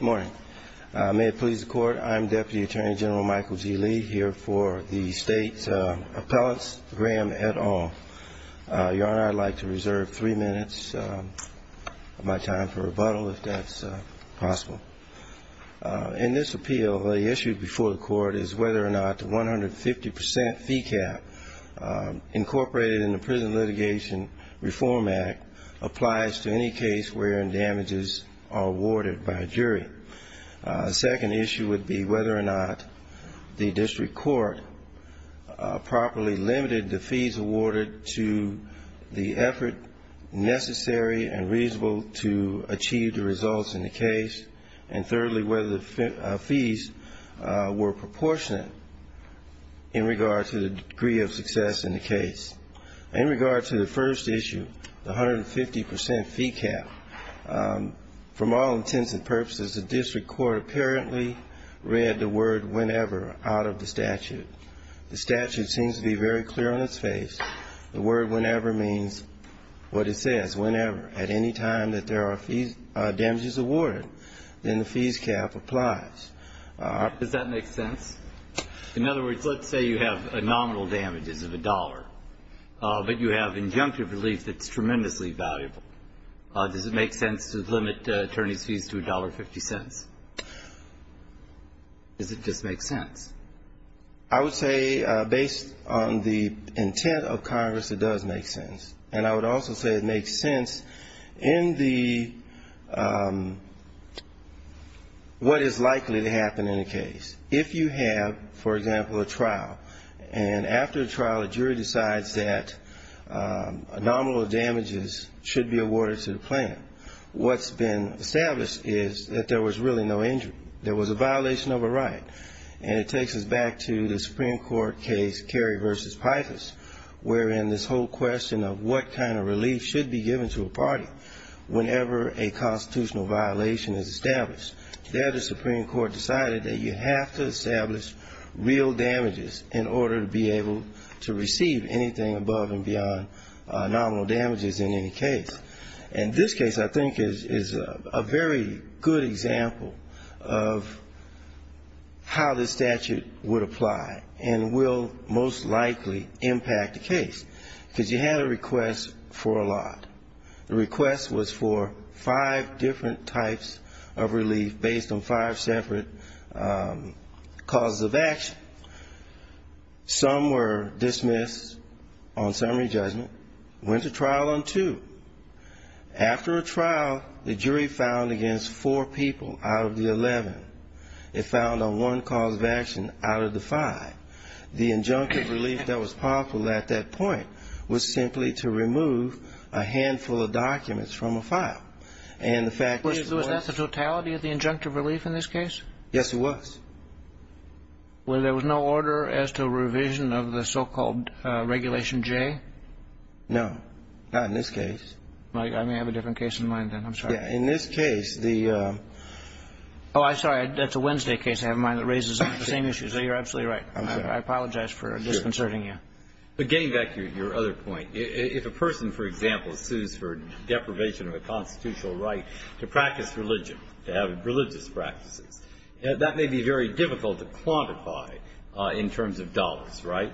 Good morning. May it please the Court, I'm Deputy Attorney General Michael G. Lee, here for the State Appellate's, Graham, et al. Your Honor, I'd like to reserve three minutes of my time for rebuttal, if that's possible. In this appeal, the issue before the Court is whether or not the 150% fee cap incorporated in the Prison Litigation Reform Act applies to any case wherein damages are awarded by a jury. The second issue would be whether or not the District Court properly limited the fees awarded to the effort necessary and reasonable to achieve the results in the case. And thirdly, whether the fees were proportionate in regard to the degree of success in the case. In regard to the first issue, the 150% fee cap, from all intents and purposes, the District Court apparently read the word whenever out of the statute. The statute seems to be very clear on its face. The word whenever means what it says, whenever. At any time that there are damages awarded, then the fees cap applies. Does that make sense? In other words, let's say you have nominal damages of a dollar, but you have injunctive relief that's tremendously valuable. Does it make sense to limit attorney's fees to $1.50? Does it just make sense? I would say, based on the intent of Congress, it does make sense. And I would also say it makes sense in the what is likely to happen in a case. If you have, for example, a trial, and after the trial, a jury decides that a nominal damages should be awarded to the plaintiff, what's been established is that there was really no injury. There was a violation of a right. And it takes us back to the Supreme Court case Kerry v. Pythas, wherein this whole question of what kind of relief should be given to a party whenever a constitutional violation is established. There the Supreme Court decided that you have to establish real damages in order to be able to receive anything above and beyond nominal damages in any case. And this case, I think, is a very good example of how this statute would apply, and will most likely impact the case. Because you had a request for a lot. The request was for five Some were dismissed on summary judgment, went to trial on two. After a trial, the jury filed against four people out of the 11. It filed on one cause of action out of the five. The injunctive relief that was possible at that point was simply to remove a handful of documents from a file. And the fact was that the totality of the injunctive relief in this case? Yes, it was. Well, there was no order as to revision of the so-called Regulation J? No, not in this case. I may have a different case in mind then. I'm sorry. In this case, the Oh, I'm sorry. That's a Wednesday case. I have a mind that raises the same issues. You're absolutely right. I apologize for disconcerting you. But getting back to your other point, if a person, for example, sues for deprivation of a constitutional right to practice religion, to have religious practices, that may be very difficult to quantify in terms of dollars, right?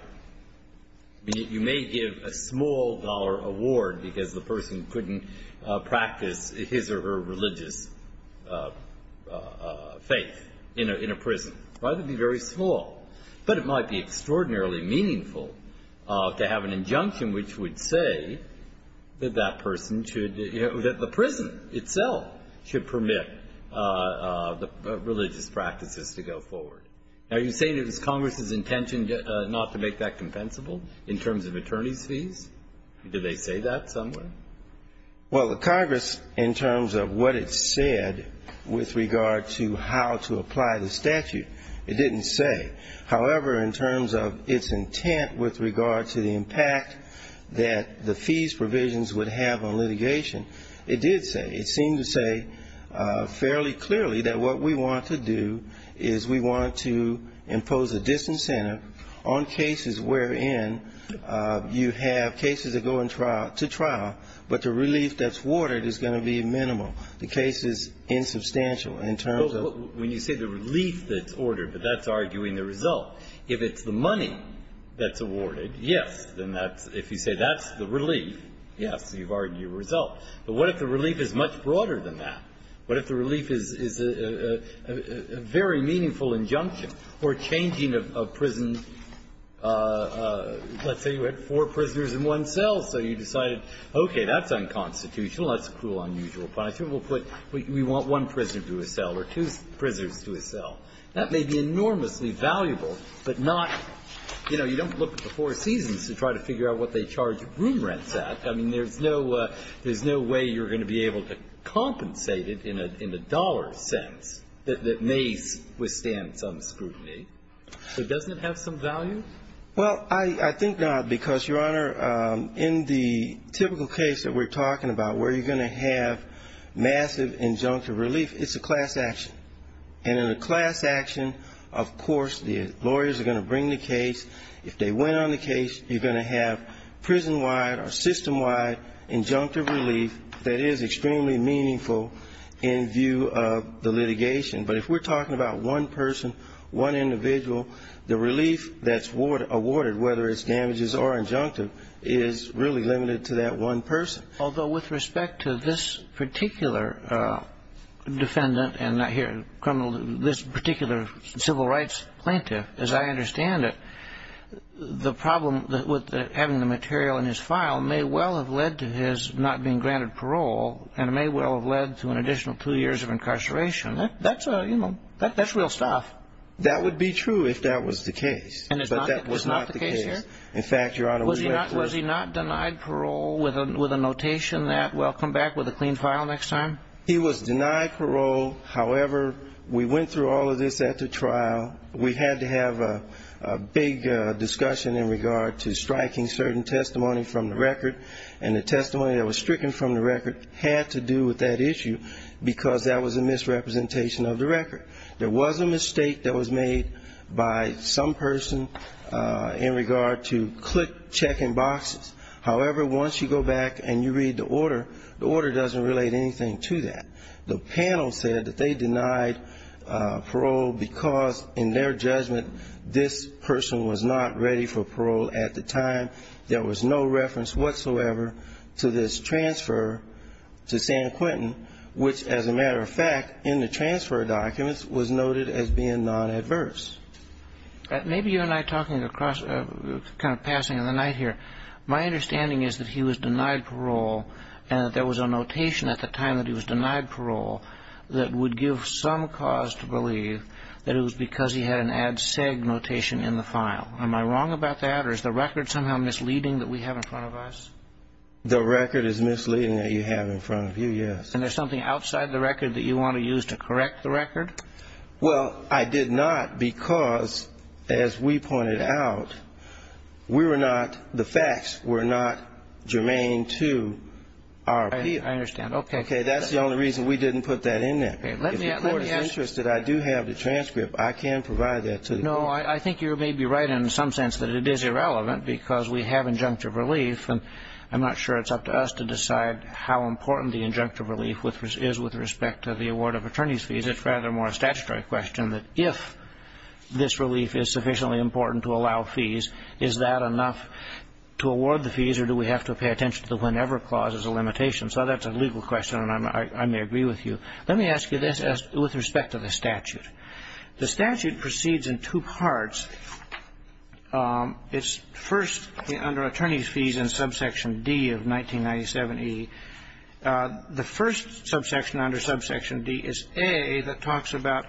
You may give a small dollar award because the person couldn't practice his or her religious faith in a prison. Why would it be very small? But it might be extraordinarily meaningful to have an injunction which would say that that person should, that the prison itself should permit religious practices to go forward. Are you saying it was Congress' intention not to make that compensable in terms of attorney's fees? Did they say that somewhere? Well, the Congress, in terms of what it said with regard to how to apply the statute, it didn't say. However, in terms of its intent with regard to the impact that the fees provisions would have on litigation, it did say. It seemed to say fairly clearly that what we want to do is we want to impose a disincentive on cases wherein you have cases that go to trial, but the relief that's awarded is going to be minimal. The case is insubstantial in terms of the relief that's ordered, but that's arguing the result. If it's the money that's awarded, yes, then that's, if you say that's the relief, yes, you've argued the result. But what if the relief is much broader than that? What if the relief is a very meaningful injunction or changing a prison? Let's say you had four prisoners in one cell, so you decided, okay, that's unconstitutional, that's a cruel, unusual punishment. We'll put, we want one prisoner to a cell or two prisoners to a cell. That may be enormously valuable, but not, you know, you don't look at the Four Seasons to try to figure out what they charge room rents at. I mean, there's no way you're going to be able to compensate it in a dollar sense that may withstand some scrutiny. So doesn't it have some value? Well, I think not, because, Your Honor, in the typical case that we're talking about where you're going to have massive injunctive relief, it's a class action. And in a class action, of course, the lawyers are going to bring the case. If they win on the case, you're going to have prison-wide or system-wide injunctive relief that is extremely meaningful in view of the litigation. But if we're talking about one person, one individual, the relief that's awarded, whether it's damages or injunctive, is really limited to that one person. Although with respect to this particular defendant and not here, criminal, this particular civil rights plaintiff, as I understand it, the problem with having the material in his file may well have led to his not being granted parole and may well have led to an additional two years of incarceration. That's a, you know, that's real stuff. That would be true if that was the case, but that was not the case here. In fact, Your Notation, that will come back with a clean file next time? He was denied parole. However, we went through all of this at the trial. We had to have a big discussion in regard to striking certain testimony from the record, and the testimony that was stricken from the record had to do with that issue because that was a misrepresentation of the record. There was a mistake that was made by some person in regard to click-checking when you read the order. The order doesn't relate anything to that. The panel said that they denied parole because, in their judgment, this person was not ready for parole at the time. There was no reference whatsoever to this transfer to San Quentin, which, as a matter of fact, in the transfer documents, was noted as being non-adverse. Maybe you and I are talking across, kind of passing the night here. My understanding is that he was denied parole and that there was a notation at the time that he was denied parole that would give some cause to believe that it was because he had an ad seg notation in the file. Am I wrong about that, or is the record somehow misleading that we have in front of us? The record is misleading that you have in front of you, yes. And there's something outside the record that you want to use to correct the record? Well, I did not because, as we pointed out, we were not, the facts were not germane to our appeal. I understand. Okay. Okay. That's the only reason we didn't put that in there. Okay. Let me ask you... If the Court is interested, I do have the transcript. I can provide that to the Court. No, I think you may be right in some sense that it is irrelevant because we have injunctive relief. I'm not sure it's up to us to decide how important the injunctive relief is with respect to the award of attorney's fees. It's rather more a statutory question that if this relief is sufficiently important to allow fees, is that enough to award the fees or do we have to pay attention to the whenever clause as a limitation? So that's a legal question, and I may agree with you. Let me ask you this with respect to the statute. The statute proceeds in two parts. It's first under attorney's fees in subsection D of 1997E. The first subsection under subsection D is A that talks about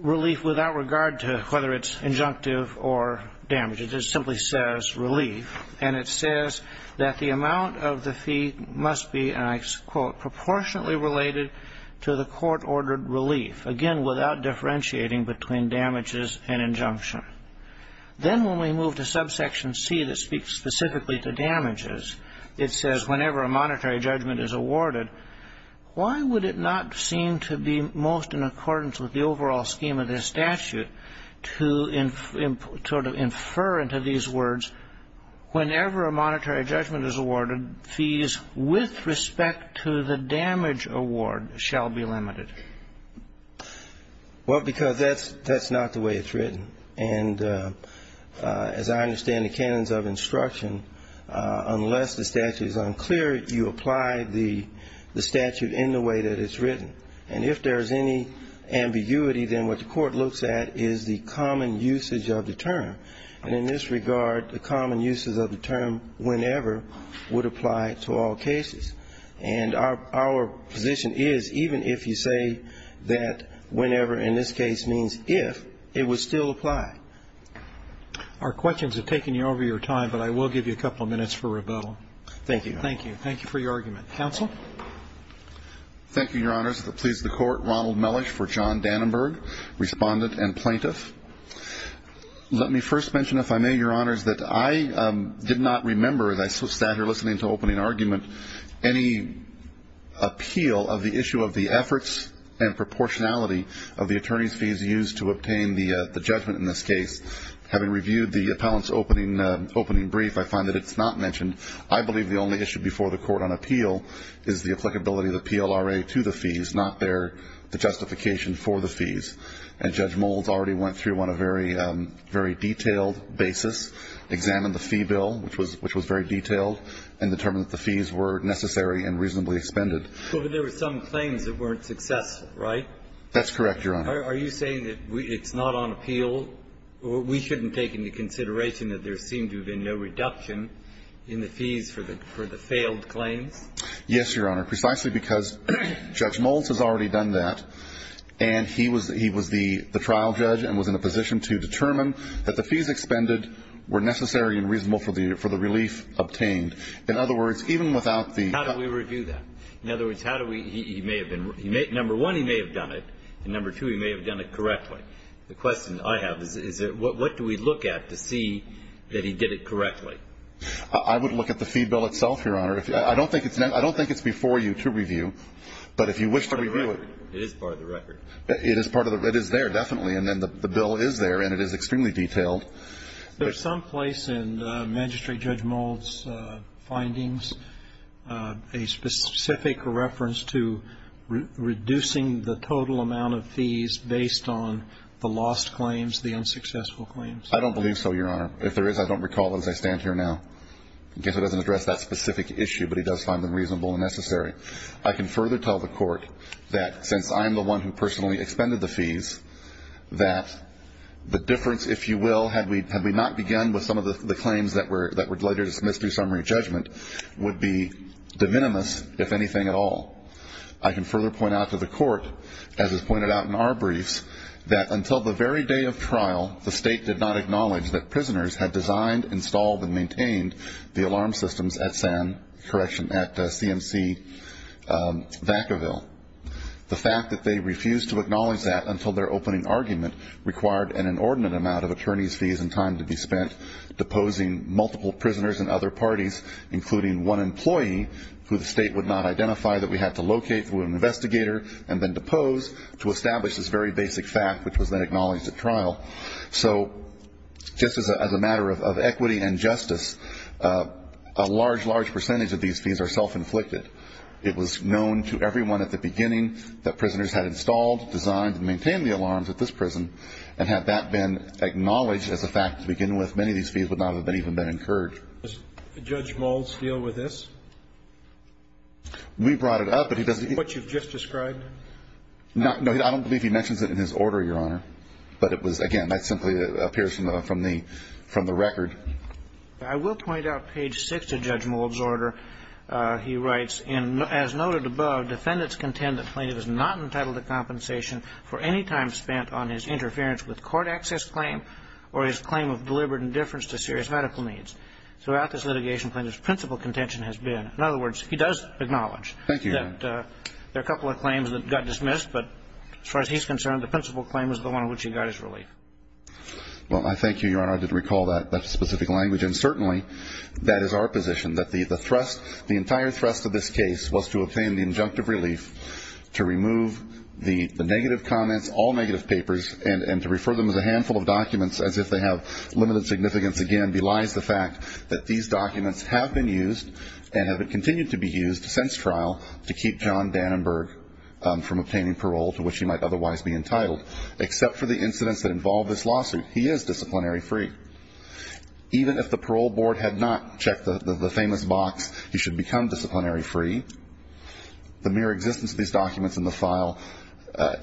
relief without regard to whether it's injunctive or damage. It just simply says relief, and it says that the amount of the fee must be, and I quote, proportionately related to the court-ordered relief, again, without differentiating between damages and fees. In the subsection C that speaks specifically to damages, it says whenever a monetary judgment is awarded, why would it not seem to be most in accordance with the overall scheme of this statute to sort of infer into these words, whenever a monetary judgment is awarded, fees with respect to the damage award shall be limited? Well, because that's not the way it's written. And as I understand the canons of instruction, unless the statute is unclear, you apply the statute in the way that it's written. And if there's any ambiguity, then what the court looks at is the common usage of the term. And in this regard, the common usage of the term whenever would apply to all cases. And our position is even if you say that whenever in this case means if, it would still apply. Our questions have taken you over your time, but I will give you a couple of minutes for rebuttal. Thank you. Thank you. Thank you for your argument. Counsel? Thank you, Your Honors. That pleases the Court. Ronald Mellish for John Dannenberg, Respondent and Plaintiff. Let me first mention, if I may, Your Honors, that I did not make in argument any appeal of the issue of the efforts and proportionality of the attorney's fees used to obtain the judgment in this case. Having reviewed the appellant's opening brief, I find that it's not mentioned. I believe the only issue before the Court on appeal is the applicability of the PLRA to the fees, not the justification for the fees. And Judge Moulds already went through on a very detailed basis, examined the fee bill, which was very detailed, and determined that the fees were necessary and reasonably expended. But there were some claims that weren't successful, right? That's correct, Your Honor. Are you saying that it's not on appeal? We shouldn't take into consideration that there seemed to have been no reduction in the fees for the failed claims? Yes, Your Honor. Precisely because Judge Moulds has already done that, and he was the trial judge and was in a position to determine that the fees expended were necessary and reasonable for the relief obtained. In other words, even without the... How do we review that? In other words, how do we... he may have been... Number one, he may have done it. And number two, he may have done it correctly. The question I have is what do we look at to see that he did it correctly? I would look at the fee bill itself, Your Honor. I don't think it's before you to review. But if you wish to review it... It is part of the record. It is part of the record. It is there, definitely. And then the bill is there, and it is extremely detailed. Is there someplace in Magistrate Judge Moulds' findings a specific reference to reducing the total amount of fees based on the lost claims, the unsuccessful claims? I don't believe so, Your Honor. If there is, I don't recall it as I stand here now. I guess it doesn't address that specific issue, but he does find them reasonable and necessary. I can further tell the Court that since I am the one who personally expended the fees, that the difference, if you will, had we not begun with some of the claims that were later dismissed through summary judgment, would be de minimis, if anything at all. I can further point out to the Court, as is pointed out in our briefs, that until the very day of trial, the State did not acknowledge that prisoners had designed, installed, and maintained the alarm systems at CMC Vacaville. The fact that they refused to acknowledge that until their opening argument required an inordinate amount of attorneys' fees and time to be spent deposing multiple prisoners and other parties, including one employee, who the State would not identify that we had to locate through an investigator and then depose to establish this very basic fact, which was then acknowledged at trial. So, just as a matter of equity and justice, a large, large percentage of these fees are self-inflicted. It was known to everyone at the beginning that prisoners had installed, designed, and maintained the alarms at this prison. And had that been acknowledged as a fact to begin with, many of these fees would not have even been incurred. Does Judge Mould's deal with this? We brought it up, but he doesn't... What you've just described? No, I don't believe he mentions it in his order, Your Honor. But it was, again, that simply appears from the record. I will point out page 6 of Judge Mould's order. He writes, As noted above, defendants contend that Plaintiff is not entitled to compensation for any time spent on his interference with court access claim or his claim of deliberate indifference to serious medical needs. Throughout this litigation, Plaintiff's principal contention has been... In other words, he does acknowledge... Thank you, Your Honor. ...that there are a couple of claims that got dismissed, but as far as he's concerned, the principal claim was the one in which he got his relief. Well, I thank you, Your Honor. I did recall that. That's a specific language. And certainly, that is our position, that the entire thrust of this case was to obtain the injunctive relief to remove the negative comments, all negative papers, and to refer them as a handful of documents as if they have limited significance. Again, belies the fact that these documents have been used and have continued to be used since trial to keep John Dannenberg from obtaining parole to which he might otherwise be entitled, except for the incidents that involve this lawsuit. He is disciplinary free. Even if the parole board had not checked the famous box, he should become disciplinary free. The mere existence of these documents in the file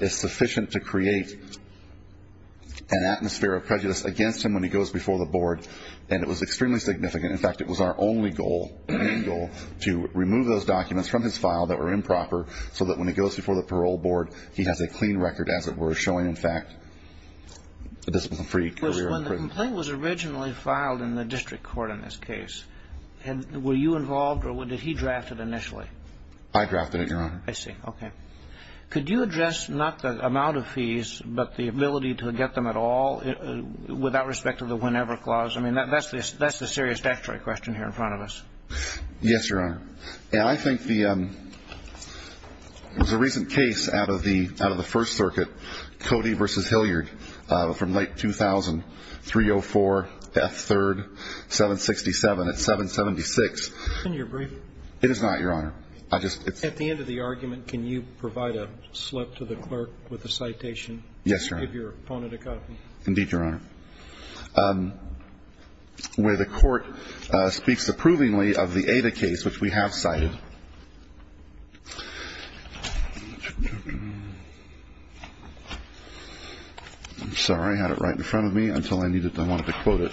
is sufficient to create an atmosphere of prejudice against him when he goes before the board, and it was extremely significant. In fact, it was our only goal, main goal, to remove those documents from his file that were improper so that when he goes before the parole board, he has a clean record, as it were, showing, in fact, a disciplinary free career in prison. When the complaint was originally filed in the district court in this case, were you involved, or did he draft it initially? I drafted it, Your Honor. I see. Okay. Could you address not the amount of fees, but the ability to get them at all without respect to the whenever clause? I mean, that's the serious statutory question here in front of us. Yes, Your Honor. And I think there was a recent case out of the First Circuit, Cody v. Hilliard, from late 2000, 304 F. 3rd, 767. It's 776. Isn't your brief? It is not, Your Honor. At the end of the argument, can you provide a slip to the clerk with a citation? Yes, Your Honor. Give your opponent a copy. Indeed, Your Honor. Where the court speaks approvingly of the Ada case, which we have cited. I'm sorry. I had it right in front of me until I wanted to quote it.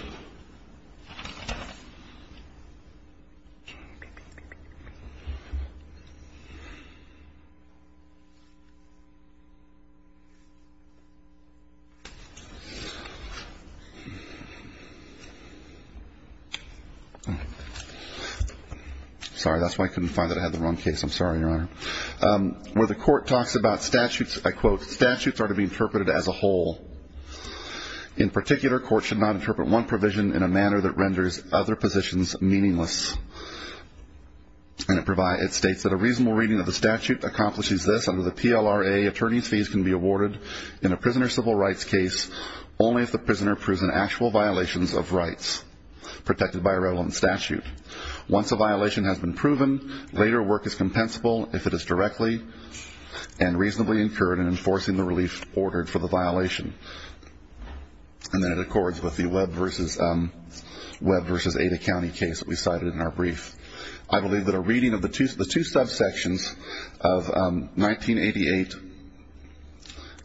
Sorry, that's why I couldn't find it. I had the wrong case. I'm sorry, Your Honor. Where the court talks about statutes, I quote, Statutes are to be interpreted as a whole. In particular, courts should not interpret one provision in a manner that renders other positions meaningless. And it states that a reasonable reading of the statute accomplishes this. Under the PLRA, attorneys' fees can be awarded in a prisoner civil rights case only if the prisoner proves an actual violation of rights protected by a relevant statute. Once a violation has been proven, later work is compensable if it is directly and reasonably incurred in enforcing the relief ordered for the violation. And then it accords with the Webb vs. Ada County case that we cited in our brief. I believe that a reading of the two subsections of 1988,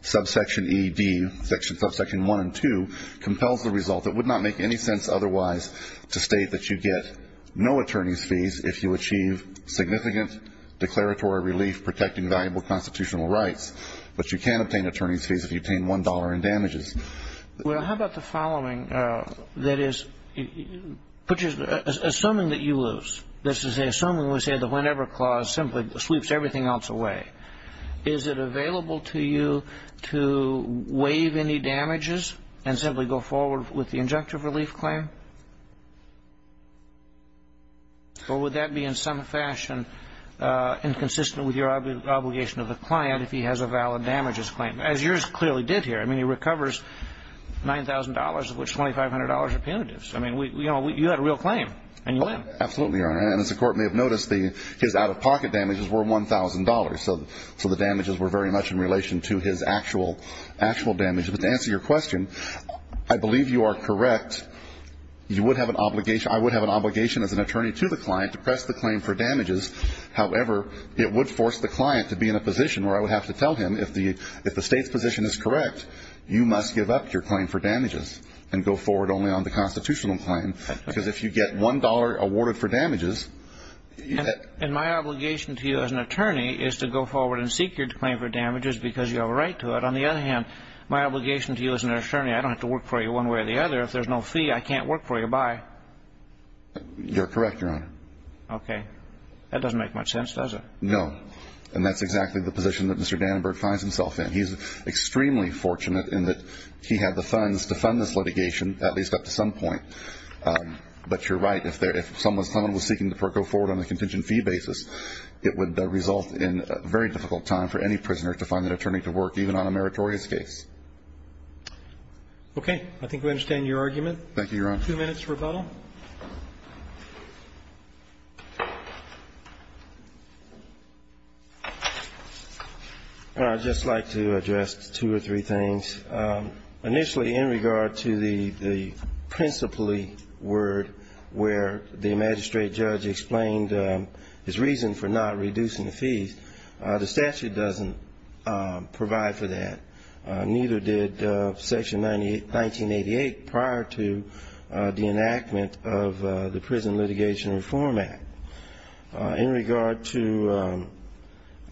subsection ED, subsection 1 and 2, compels the result that would not make any sense otherwise to state that you get no attorney's fees if you achieve significant declaratory relief protecting valuable constitutional rights. But you can obtain attorney's fees if you obtain one dollar in damages. Well, how about the following? That is, assuming that you lose, that is to say, assuming we say the whenever clause simply sweeps everything else away, is it available to you to waive any damages and simply go forward with the injunctive relief claim? Or would that be in some fashion inconsistent with your obligation of the client if he has a valid damages claim? As yours clearly did here. I mean, he recovers $9,000 of which $2,500 are punitives. I mean, you had a real claim. Absolutely, Your Honor. And as the Court may have noticed, his out-of-pocket damages were $1,000. So the damages were very much in relation to his actual damage. But to answer your question, I believe you are correct. I would have an obligation as an attorney to the client to press the claim for damages. However, it would force the client to be in a position where I would have to tell him if the State's position is correct, you must give up your claim for damages and go forward only on the constitutional claim. Because if you get $1 awarded for damages... And my obligation to you as an attorney is to go forward and seek your claim for damages because you have a right to it. On the other hand, my obligation to you as an attorney is I don't have to work for you one way or the other. If there's no fee, I can't work for you. Bye. You're correct, Your Honor. Okay. That doesn't make much sense, does it? No. And that's exactly the position that Mr. Dannenberg finds himself in. He's extremely fortunate in that he had the funds to fund this litigation, at least up to some point. But you're right. If someone was seeking to go forward on a contingent fee basis, it would result in a very difficult time for any prisoner to find an attorney to work even on a meritorious case. Okay. I think we understand your argument. Thank you, Your Honor. Two minutes for rebuttal. I'd just like to address two or three things. Initially, in regard to the principally word where the magistrate judge explained his reason for not reducing the fees, the statute doesn't provide for that. Neither did Section 1988 prior to the enactment of the Prison Litigation Reform Act. In regard to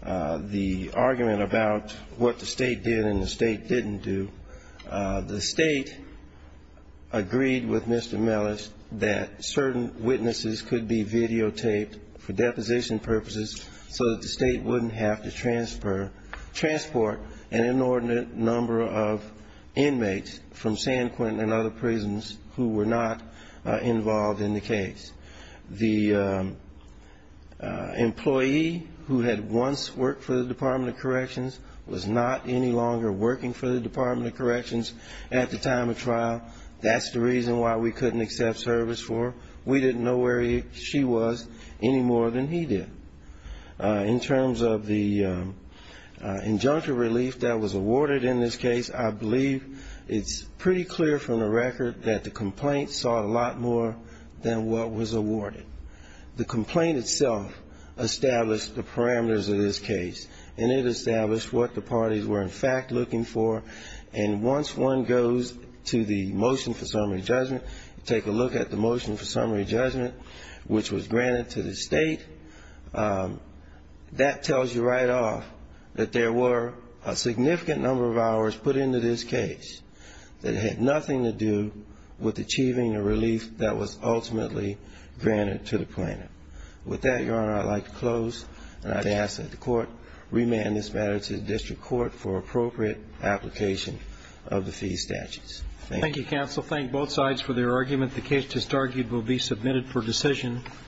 the argument about what the state did and the state didn't do, the state agreed with Mr. Mellish that certain witnesses could be videotaped for deposition purposes so that the state wouldn't have to transport an inordinate number of inmates from San Quentin and other prisons who were not involved in the case. The employee who had once worked for the Department of Corrections was not any longer working for the Department of Corrections at the time of trial. That's the reason why we couldn't accept service for her. We didn't know where she was any more than he did. In terms of the injunctive relief that was awarded in this case, I believe it's pretty clear from the record that the complaint sought a lot more than what was awarded. The complaint itself established the parameters of this case, and it established what the parties were in fact looking for and once one goes to the motion for summary judgment, take a look at the motion for summary judgment which was granted to the state, that tells you right off that there were a significant number of hours put into this case that had nothing to do with achieving a relief that was ultimately granted to the plaintiff. With that, Your Honor, I'd like to close and I'd ask that the court remand this matter to the district court for appropriate application of the fee statutes. Thank you. Thank you, counsel. Thank both sides for their argument. The case, it is argued, will be submitted for decision.